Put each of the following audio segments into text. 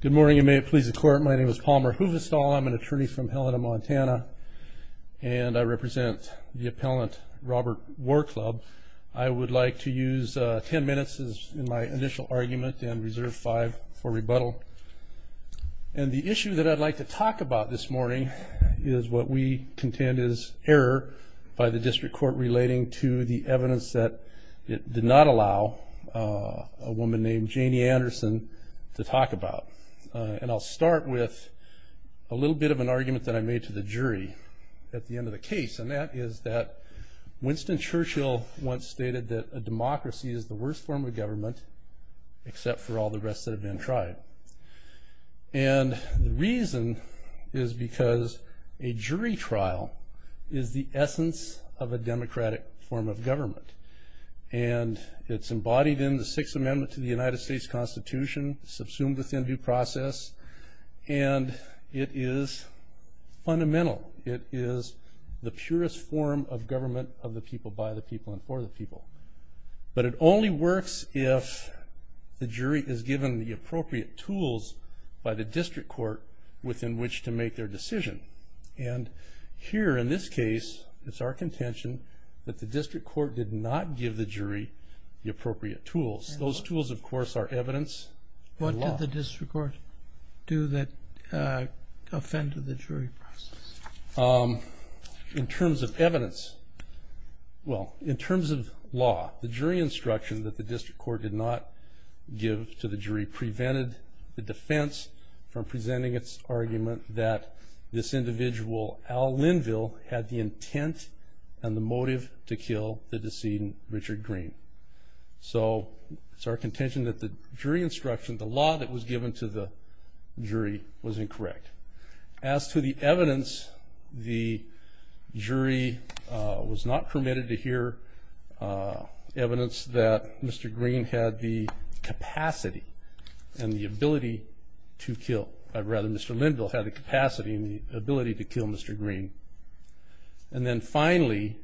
Good morning. You may please the court. My name is Palmer Hoovestall. I'm an attorney from Helena, Montana, and I represent the appellant Robert War Club. I would like to use ten minutes in my initial argument and reserve five for rebuttal. And the issue that I'd like to talk about this morning is what we contend is error by the district court relating to the evidence that it did not allow a woman named Janie Anderson to talk about. And I'll start with a little bit of an argument that I made to the jury at the end of the case. And that is that Winston Churchill once stated that a democracy is the worst form of government except for all the rest that have been tried. And the reason is because a jury trial is the essence of a democratic form of government. And it's embodied in the Sixth Amendment to the United States Constitution, subsumed within due process, and it is fundamental. It is the purest form of government of the people, by the people, and for the people. But it only works if the jury is given the appropriate tools by the district court within which to make their decision. And here, in this case, it's our contention that the district court did not give the jury the appropriate tools. Those tools, of course, are evidence and law. What did the district court do that offended the jury process? In terms of evidence, well, in terms of law, the jury instruction that the district court did not give to the jury prevented the defense from presenting its argument that this individual, Al Linville, had the intent and the motive to kill the decedent, Richard Green. So it's our contention that the jury instruction, the law that was given to the jury, was incorrect. As to the evidence, the jury was not permitted to hear evidence that Mr. Green had the capacity and the ability to kill. Rather, Mr. Linville had the capacity and the ability to kill Mr. Green. And then finally,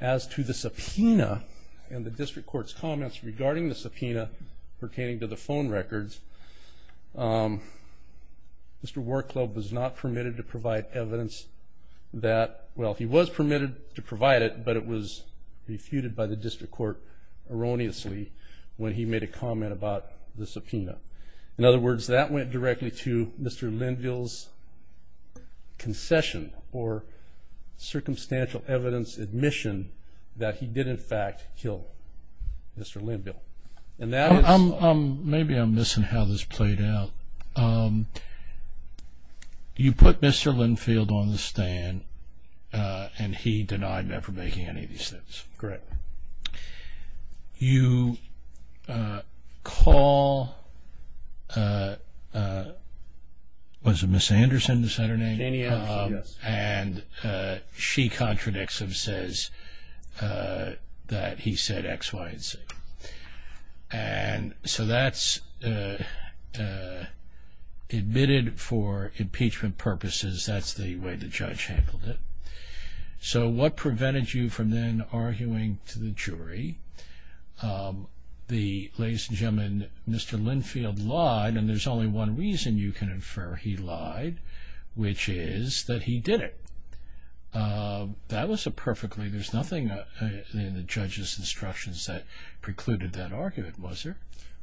as to the subpoena and the district court's comments regarding the subpoena pertaining to the phone records, Mr. Warclub was not permitted to provide evidence that, well, he was permitted to provide it, but it was refuted by the district court erroneously when he made a comment about the subpoena. In other words, that went directly to Mr. Linville's concession or circumstantial evidence admission that he did, in fact, kill Mr. Linville. Maybe I'm missing how this played out. You put Mr. Linville on the stand, and he denied never making any of these things. Correct. You call, was it Ms. Anderson, is that her name? Jania, yes. And she contradicts and says that he said X, Y, and Z. And so that's admitted for impeachment purposes. That's the way the judge handled it. So what prevented you from then arguing to the jury? The ladies and gentlemen, Mr. Linfield lied, and there's only one reason you can infer he lied, which is that he did it. That was a perfectly, there's nothing in the judge's instructions that precluded that argument, was there?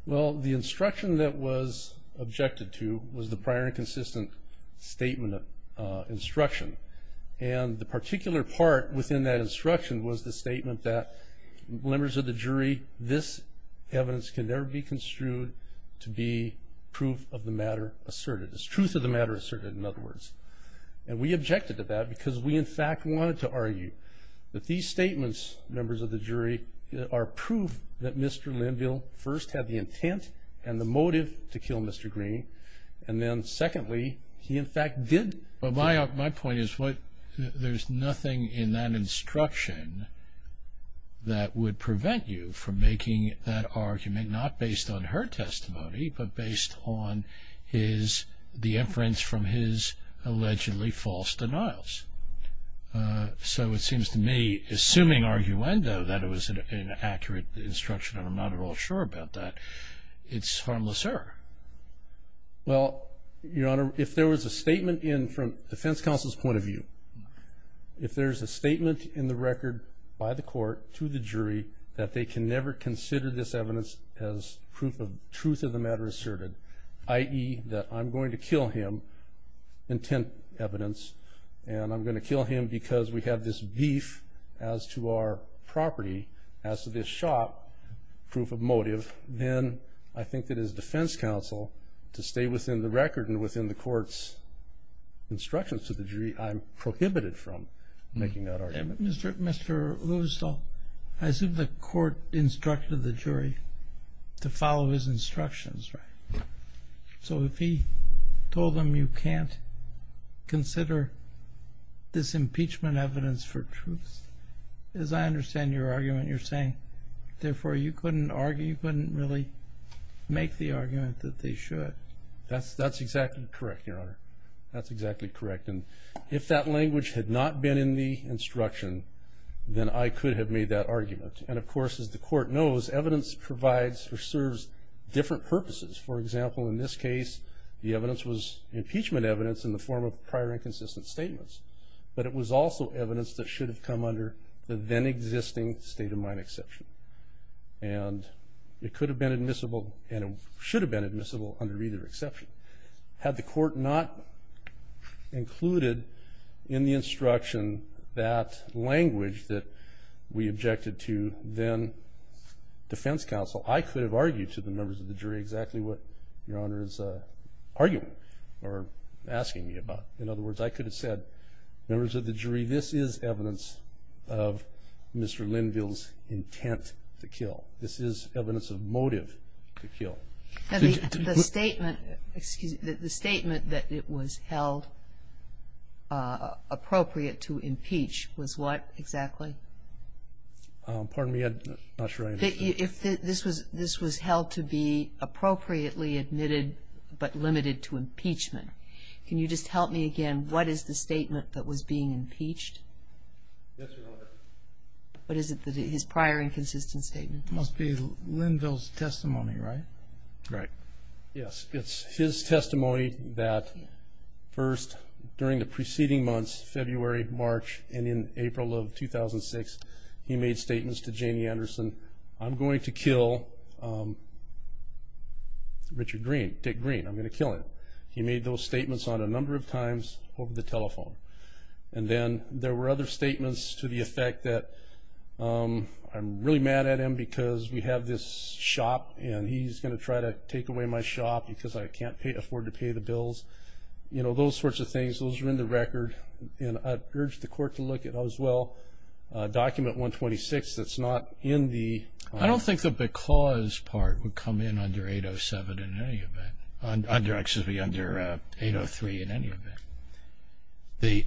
Well, the instruction that was objected to was the prior and consistent statement of instruction. And the particular part within that instruction was the statement that, members of the jury, this evidence can never be construed to be proof of the matter asserted. It's truth of the matter asserted, in other words. And we objected to that because we, in fact, wanted to argue that these statements, members of the jury, are proof that Mr. Linville first had the intent and the motive to kill Mr. Green, and then, secondly, he, in fact, did. But my point is what, there's nothing in that instruction that would prevent you from making that argument, not based on her testimony, but based on his, the inference from his allegedly false denials. So it seems to me, assuming arguendo, that it was an accurate instruction, and I'm not at all sure about that, it's harmless error. Well, Your Honor, if there was a statement in, from defense counsel's point of view, if there's a statement in the record by the court to the jury that they can never consider this evidence as proof of truth of the matter asserted, i.e., that I'm going to kill him, intent evidence, and I'm going to kill him because we have this beef as to our property, as to this shop, proof of motive, then I think that as defense counsel, to stay within the record and within the court's instructions to the jury, I'm prohibited from making that argument. Mr. Lewisdall, I assume the court instructed the jury to follow his instructions, right? Right. So if he told them you can't consider this impeachment evidence for truth, as I understand your argument, you're saying, therefore, you couldn't argue, you couldn't really make the argument that they should. That's exactly correct, Your Honor. That's exactly correct. And if that language had not been in the instruction, then I could have made that argument. And of course, as the court knows, evidence provides or serves different purposes. For example, in this case, the evidence was impeachment evidence in the form of prior inconsistent statements. But it was also evidence that should have come under the then-existing state-of-mind exception. And it could have been admissible and it should have been admissible under either exception. Had the court not included in the instruction that language that we objected to then defense counsel, I could have argued to the members of the jury exactly what Your Honor is arguing or asking me about. In other words, I could have said, members of the jury, this is evidence of Mr. Linville's intent to kill. This is evidence of motive to kill. The statement that it was held appropriate to impeach was what exactly? If this was held to be appropriately admitted but limited to impeachment, can you just help me again? What is the statement that was being impeached? Yes, Your Honor. What is it, his prior inconsistent statement? It must be Linville's testimony, right? Right. Yes, it's his testimony that first, during the preceding months, February, March, and in April of 2006, he made statements to Janie Anderson, I'm going to kill Richard Green, Dick Green, I'm going to kill him. He made those statements on a number of times over the telephone. And then there were other statements to the effect that I'm really mad at him because we have this shop and he's going to try to take away my shop because I can't afford to pay the bills. You know, those sorts of things, those are in the record. I urge the Court to look at as well Document 126 that's not in the… I don't think the because part would come in under 803 in any event.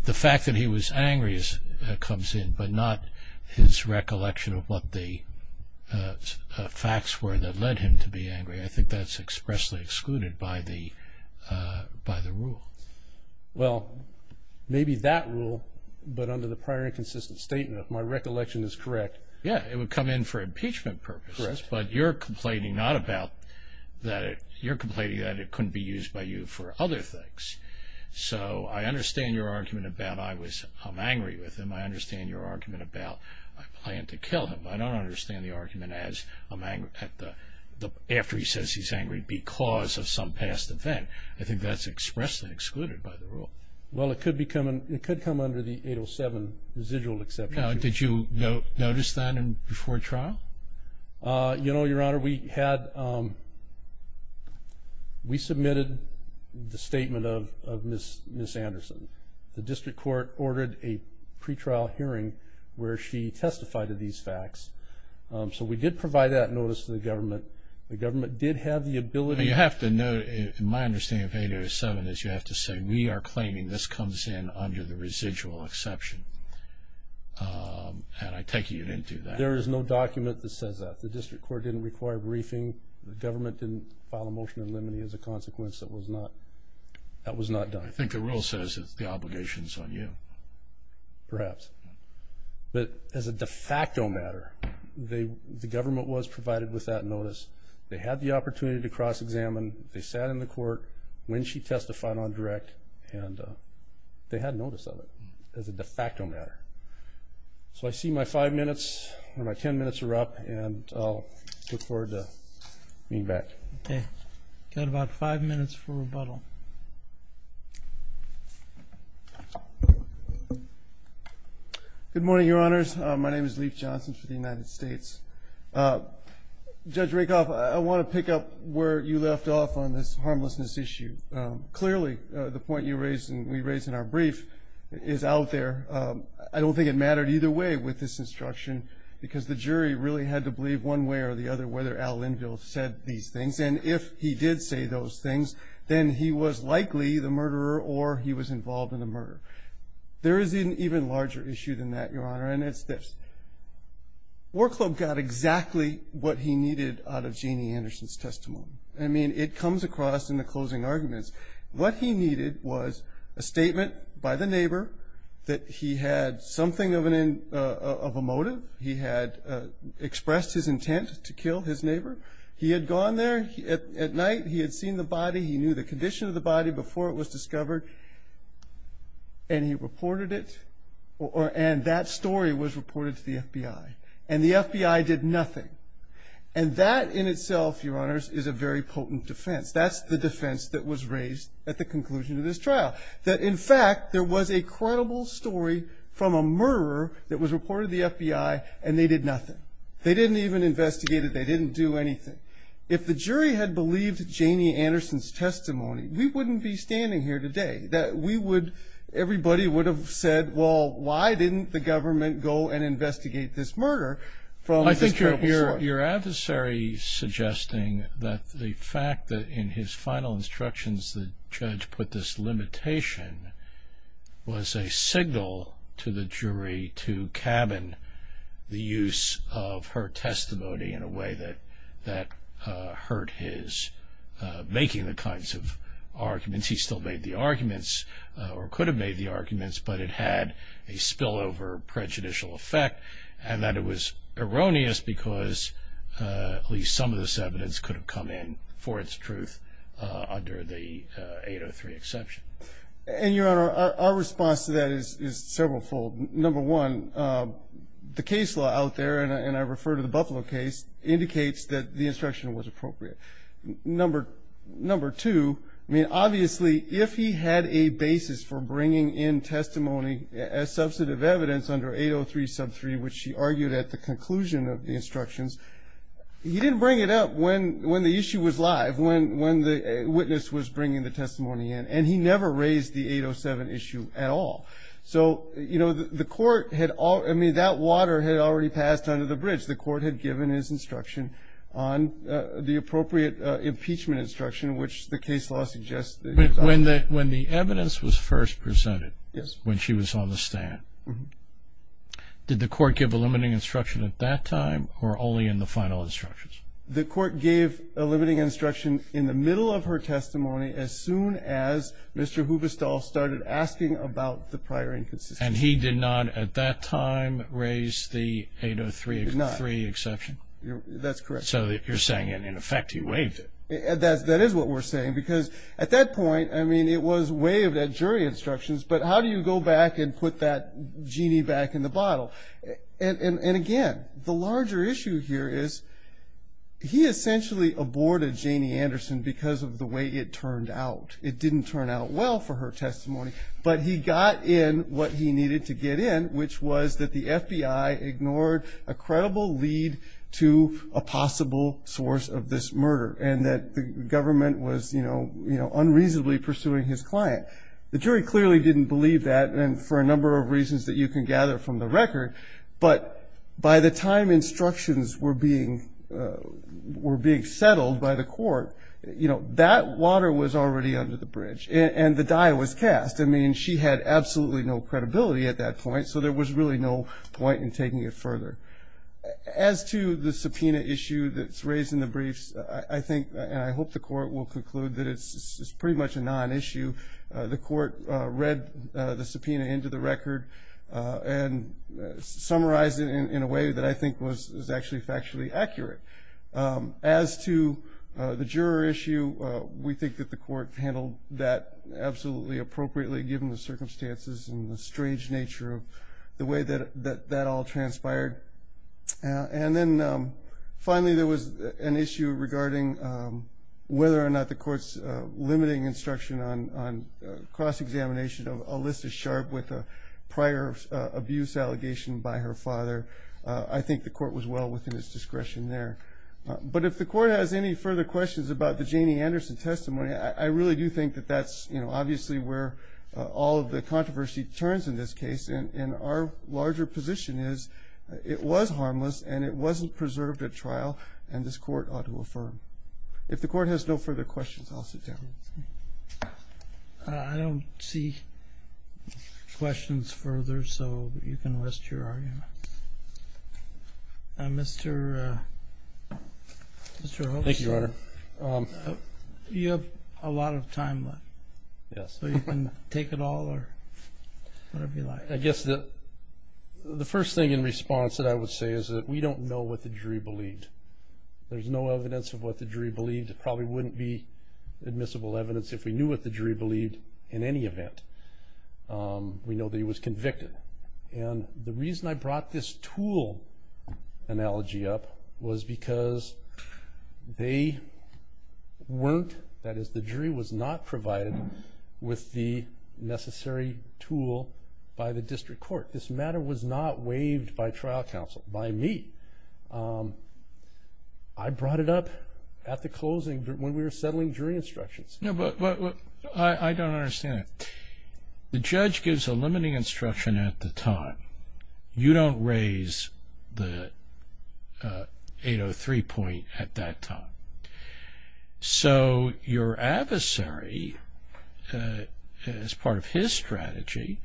The fact that he was angry comes in but not his recollection of what the facts were that led him to be angry. I think that's expressly excluded by the rule. Well, maybe that rule, but under the prior inconsistent statement, if my recollection is correct… Yeah, it would come in for impeachment purposes. Correct. But you're complaining not about that. You're complaining that it couldn't be used by you for other things. So I understand your argument about I'm angry with him. I understand your argument about I plan to kill him. I don't understand the argument as after he says he's angry because of some past event. I think that's expressly excluded by the rule. Well, it could come under the 807 residual exception. Now, did you notice that before trial? You know, Your Honor, we submitted the statement of Ms. Anderson. The district court ordered a pretrial hearing where she testified to these facts. So we did provide that notice to the government. The government did have the ability… You know, you have to note, in my understanding of 807, is you have to say, we are claiming this comes in under the residual exception, and I take it you didn't do that. There is no document that says that. The district court didn't require briefing. The government didn't file a motion in limine as a consequence. That was not done. I think the rule says that the obligation is on you. Perhaps. But as a de facto matter, the government was provided with that notice. They had the opportunity to cross-examine. They sat in the court when she testified on direct, and they had notice of it as a de facto matter. So I see my five minutes or my ten minutes are up, and I'll look forward to being back. Okay. Got about five minutes for rebuttal. Good morning, Your Honors. My name is Leif Johnson for the United States. Judge Rakoff, I want to pick up where you left off on this harmlessness issue. Clearly, the point you raised and we raised in our brief is out there. I don't think it mattered either way with this instruction, because the jury really had to believe one way or the other whether Al Linville said these things, and if he did say those things, then he was likely the murderer or he was involved in the murder. There is an even larger issue than that, Your Honor, and it's this. War Club got exactly what he needed out of Jeanne Anderson's testimony. I mean, it comes across in the closing arguments. What he needed was a statement by the neighbor that he had something of a motive. He had expressed his intent to kill his neighbor. He had gone there at night. He had seen the body. He knew the condition of the body before it was discovered, and he reported it, and that story was reported to the FBI, and the FBI did nothing, and that in itself, Your Honors, is a very potent defense. That's the defense that was raised at the conclusion of this trial, that in fact there was a credible story from a murderer that was reported to the FBI, and they did nothing. They didn't even investigate it. They didn't do anything. If the jury had believed Jeanne Anderson's testimony, we wouldn't be standing here today. Everybody would have said, well, why didn't the government go and investigate this murder from this credible source? I think you're adversary is suggesting that the fact that in his final instructions, the judge put this limitation was a signal to the jury to cabin the use of her testimony in a way that hurt his making the kinds of arguments. He still made the arguments or could have made the arguments, but it had a spillover prejudicial effect, and that it was erroneous because at least some of this evidence could have come in for its truth under the 803 exception. And, Your Honor, our response to that is several fold. Number one, the case law out there, and I refer to the Buffalo case, indicates that the instruction was appropriate. Number two, I mean, obviously, if he had a basis for bringing in testimony as substantive evidence under 803 sub 3, which he argued at the conclusion of the instructions, he didn't bring it up when the issue was live, when the witness was bringing the testimony in, and he never raised the 807 issue at all. So, you know, the court had all, I mean, that water had already passed under the bridge. The court had given his instruction on the appropriate impeachment instruction, which the case law suggests. When the evidence was first presented, when she was on the stand, did the court give a limiting instruction at that time or only in the final instructions? The court gave a limiting instruction in the middle of her testimony as soon as Mr. Hubestall started asking about the prior inconsistency. And he did not at that time raise the 803 exception? That's correct. So you're saying, in effect, he waived it. That is what we're saying, because at that point, I mean, it was waived at jury instructions, but how do you go back and put that genie back in the bottle? And again, the larger issue here is he essentially aborted Janie Anderson because of the way it turned out. It didn't turn out well for her testimony, but he got in what he needed to get in, which was that the FBI ignored a credible lead to a possible source of this murder and that the government was unreasonably pursuing his client. The jury clearly didn't believe that, and for a number of reasons that you can gather from the record. But by the time instructions were being settled by the court, you know, that water was already under the bridge and the die was cast. I mean, she had absolutely no credibility at that point, so there was really no point in taking it further. As to the subpoena issue that's raised in the briefs, I think, and I hope the court will conclude that it's pretty much a non-issue. The court read the subpoena into the record and summarized it in a way that I think was actually factually accurate. As to the juror issue, we think that the court handled that absolutely appropriately given the circumstances and the strange nature of the way that that all transpired. And then finally there was an issue regarding whether or not the court's limiting instruction on cross-examination of Alyssa Sharp with a prior abuse allegation by her father. I think the court was well within its discretion there. But if the court has any further questions about the Janie Anderson testimony, I really do think that that's, you know, obviously where all of the controversy turns in this case. And our larger position is it was harmless and it wasn't preserved at trial and this court ought to affirm. If the court has no further questions, I'll sit down. I don't see questions further, so you can rest your argument. Mr. Hoekstra. Thank you, Your Honor. You have a lot of time left. Yes. So you can take it all or whatever you like. I guess the first thing in response that I would say is that we don't know what the jury believed. There's no evidence of what the jury believed. There probably wouldn't be admissible evidence if we knew what the jury believed in any event. We know that he was convicted. And the reason I brought this tool analogy up was because they weren't, that is the jury was not provided with the necessary tool by the district court. This matter was not waived by trial counsel, by me. I brought it up at the closing when we were settling jury instructions. No, but I don't understand it. The judge gives a limiting instruction at the time. You don't raise the 803 point at that time. So your adversary, as part of his strategy,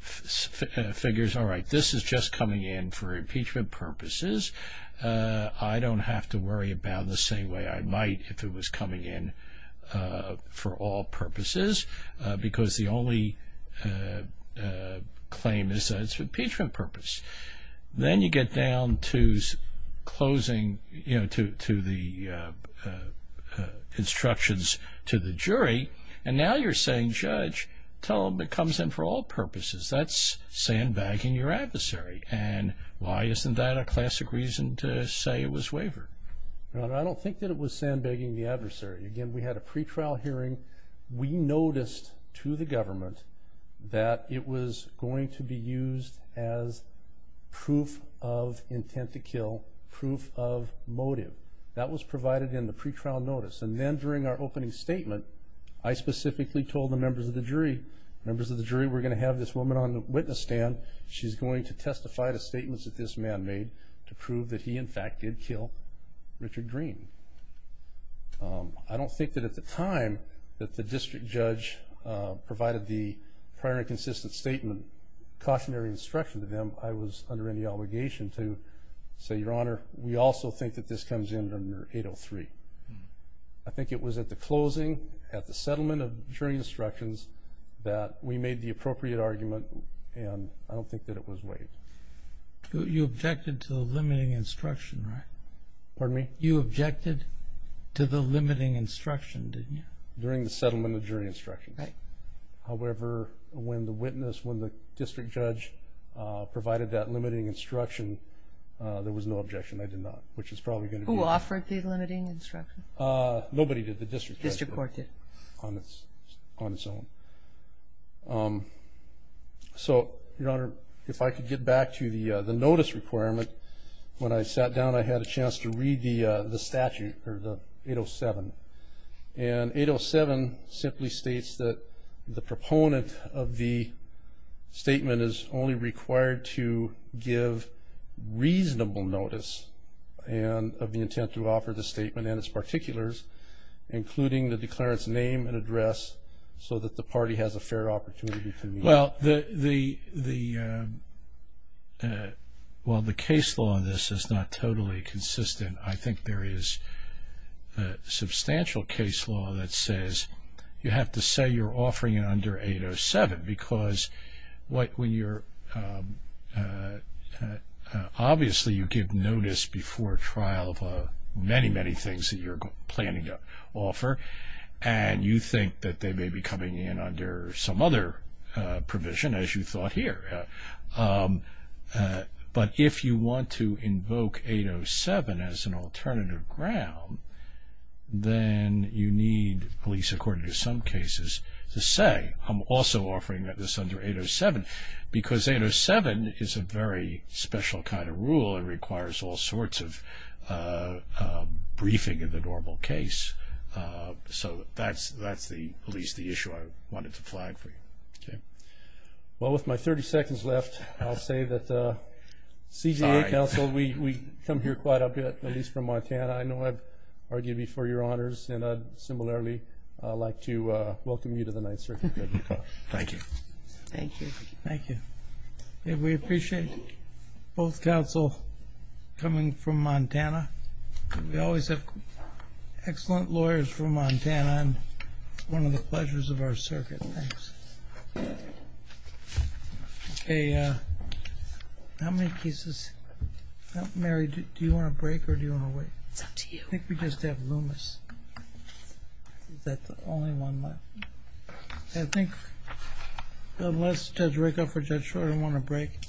figures, all right, this is just coming in for impeachment purposes. I don't have to worry about it the same way I might if it was coming in for all purposes because the only claim is that it's for impeachment purposes. Then you get down to closing, you know, to the instructions to the jury, and now you're saying, Judge, tell them it comes in for all purposes. That's sandbagging your adversary. And why isn't that a classic reason to say it was waivered? Your Honor, I don't think that it was sandbagging the adversary. Again, we had a pretrial hearing. We noticed to the government that it was going to be used as proof of intent to kill, proof of motive. That was provided in the pretrial notice. Members of the jury, we're going to have this woman on the witness stand. She's going to testify to statements that this man made to prove that he, in fact, did kill Richard Green. I don't think that at the time that the district judge provided the prior and consistent statement, cautionary instruction to them, I was under any obligation to say, Your Honor, we also think that this comes in under 803. I think it was at the closing, at the settlement of jury instructions, that we made the appropriate argument, and I don't think that it was waived. You objected to the limiting instruction, right? Pardon me? You objected to the limiting instruction, didn't you? During the settlement of jury instructions. Right. However, when the witness, when the district judge provided that limiting instruction, there was no objection. They did not, which is probably going to be the case. Who offered the limiting instruction? Nobody did. The district judge did. The district court did. On its own. So, Your Honor, if I could get back to the notice requirement. When I sat down, I had a chance to read the statute, or the 807. And 807 simply states that the proponent of the statement is only required to give reasonable notice of the intent to offer the statement and its particulars, including the declarant's name and address, so that the party has a fair opportunity to meet. Well, while the case law on this is not totally consistent, I think there is a substantial case law that says you have to say you're obviously you give notice before trial of many, many things that you're planning to offer, and you think that they may be coming in under some other provision, as you thought here. But if you want to invoke 807 as an alternative ground, then you need, at least according to some cases, to say, I'm also offering this under 807, because 807 is a very special kind of rule. It requires all sorts of briefing in the normal case. So that's at least the issue I wanted to flag for you. Well, with my 30 seconds left, I'll say that CJA counsel, we come here quite a bit, at least from Montana. I know I've argued before, Your Honors, and I'd similarly like to welcome you to the Ninth Circuit. Thank you. Thank you. Thank you. We appreciate both counsel coming from Montana. We always have excellent lawyers from Montana, and it's one of the pleasures of our circuit. Thanks. How many cases? Mary, do you want to break, or do you want to wait? It's up to you. I think we just have Loomis. That's the only one left. I think unless Judge Rakoff or Judge Schroeder want to break.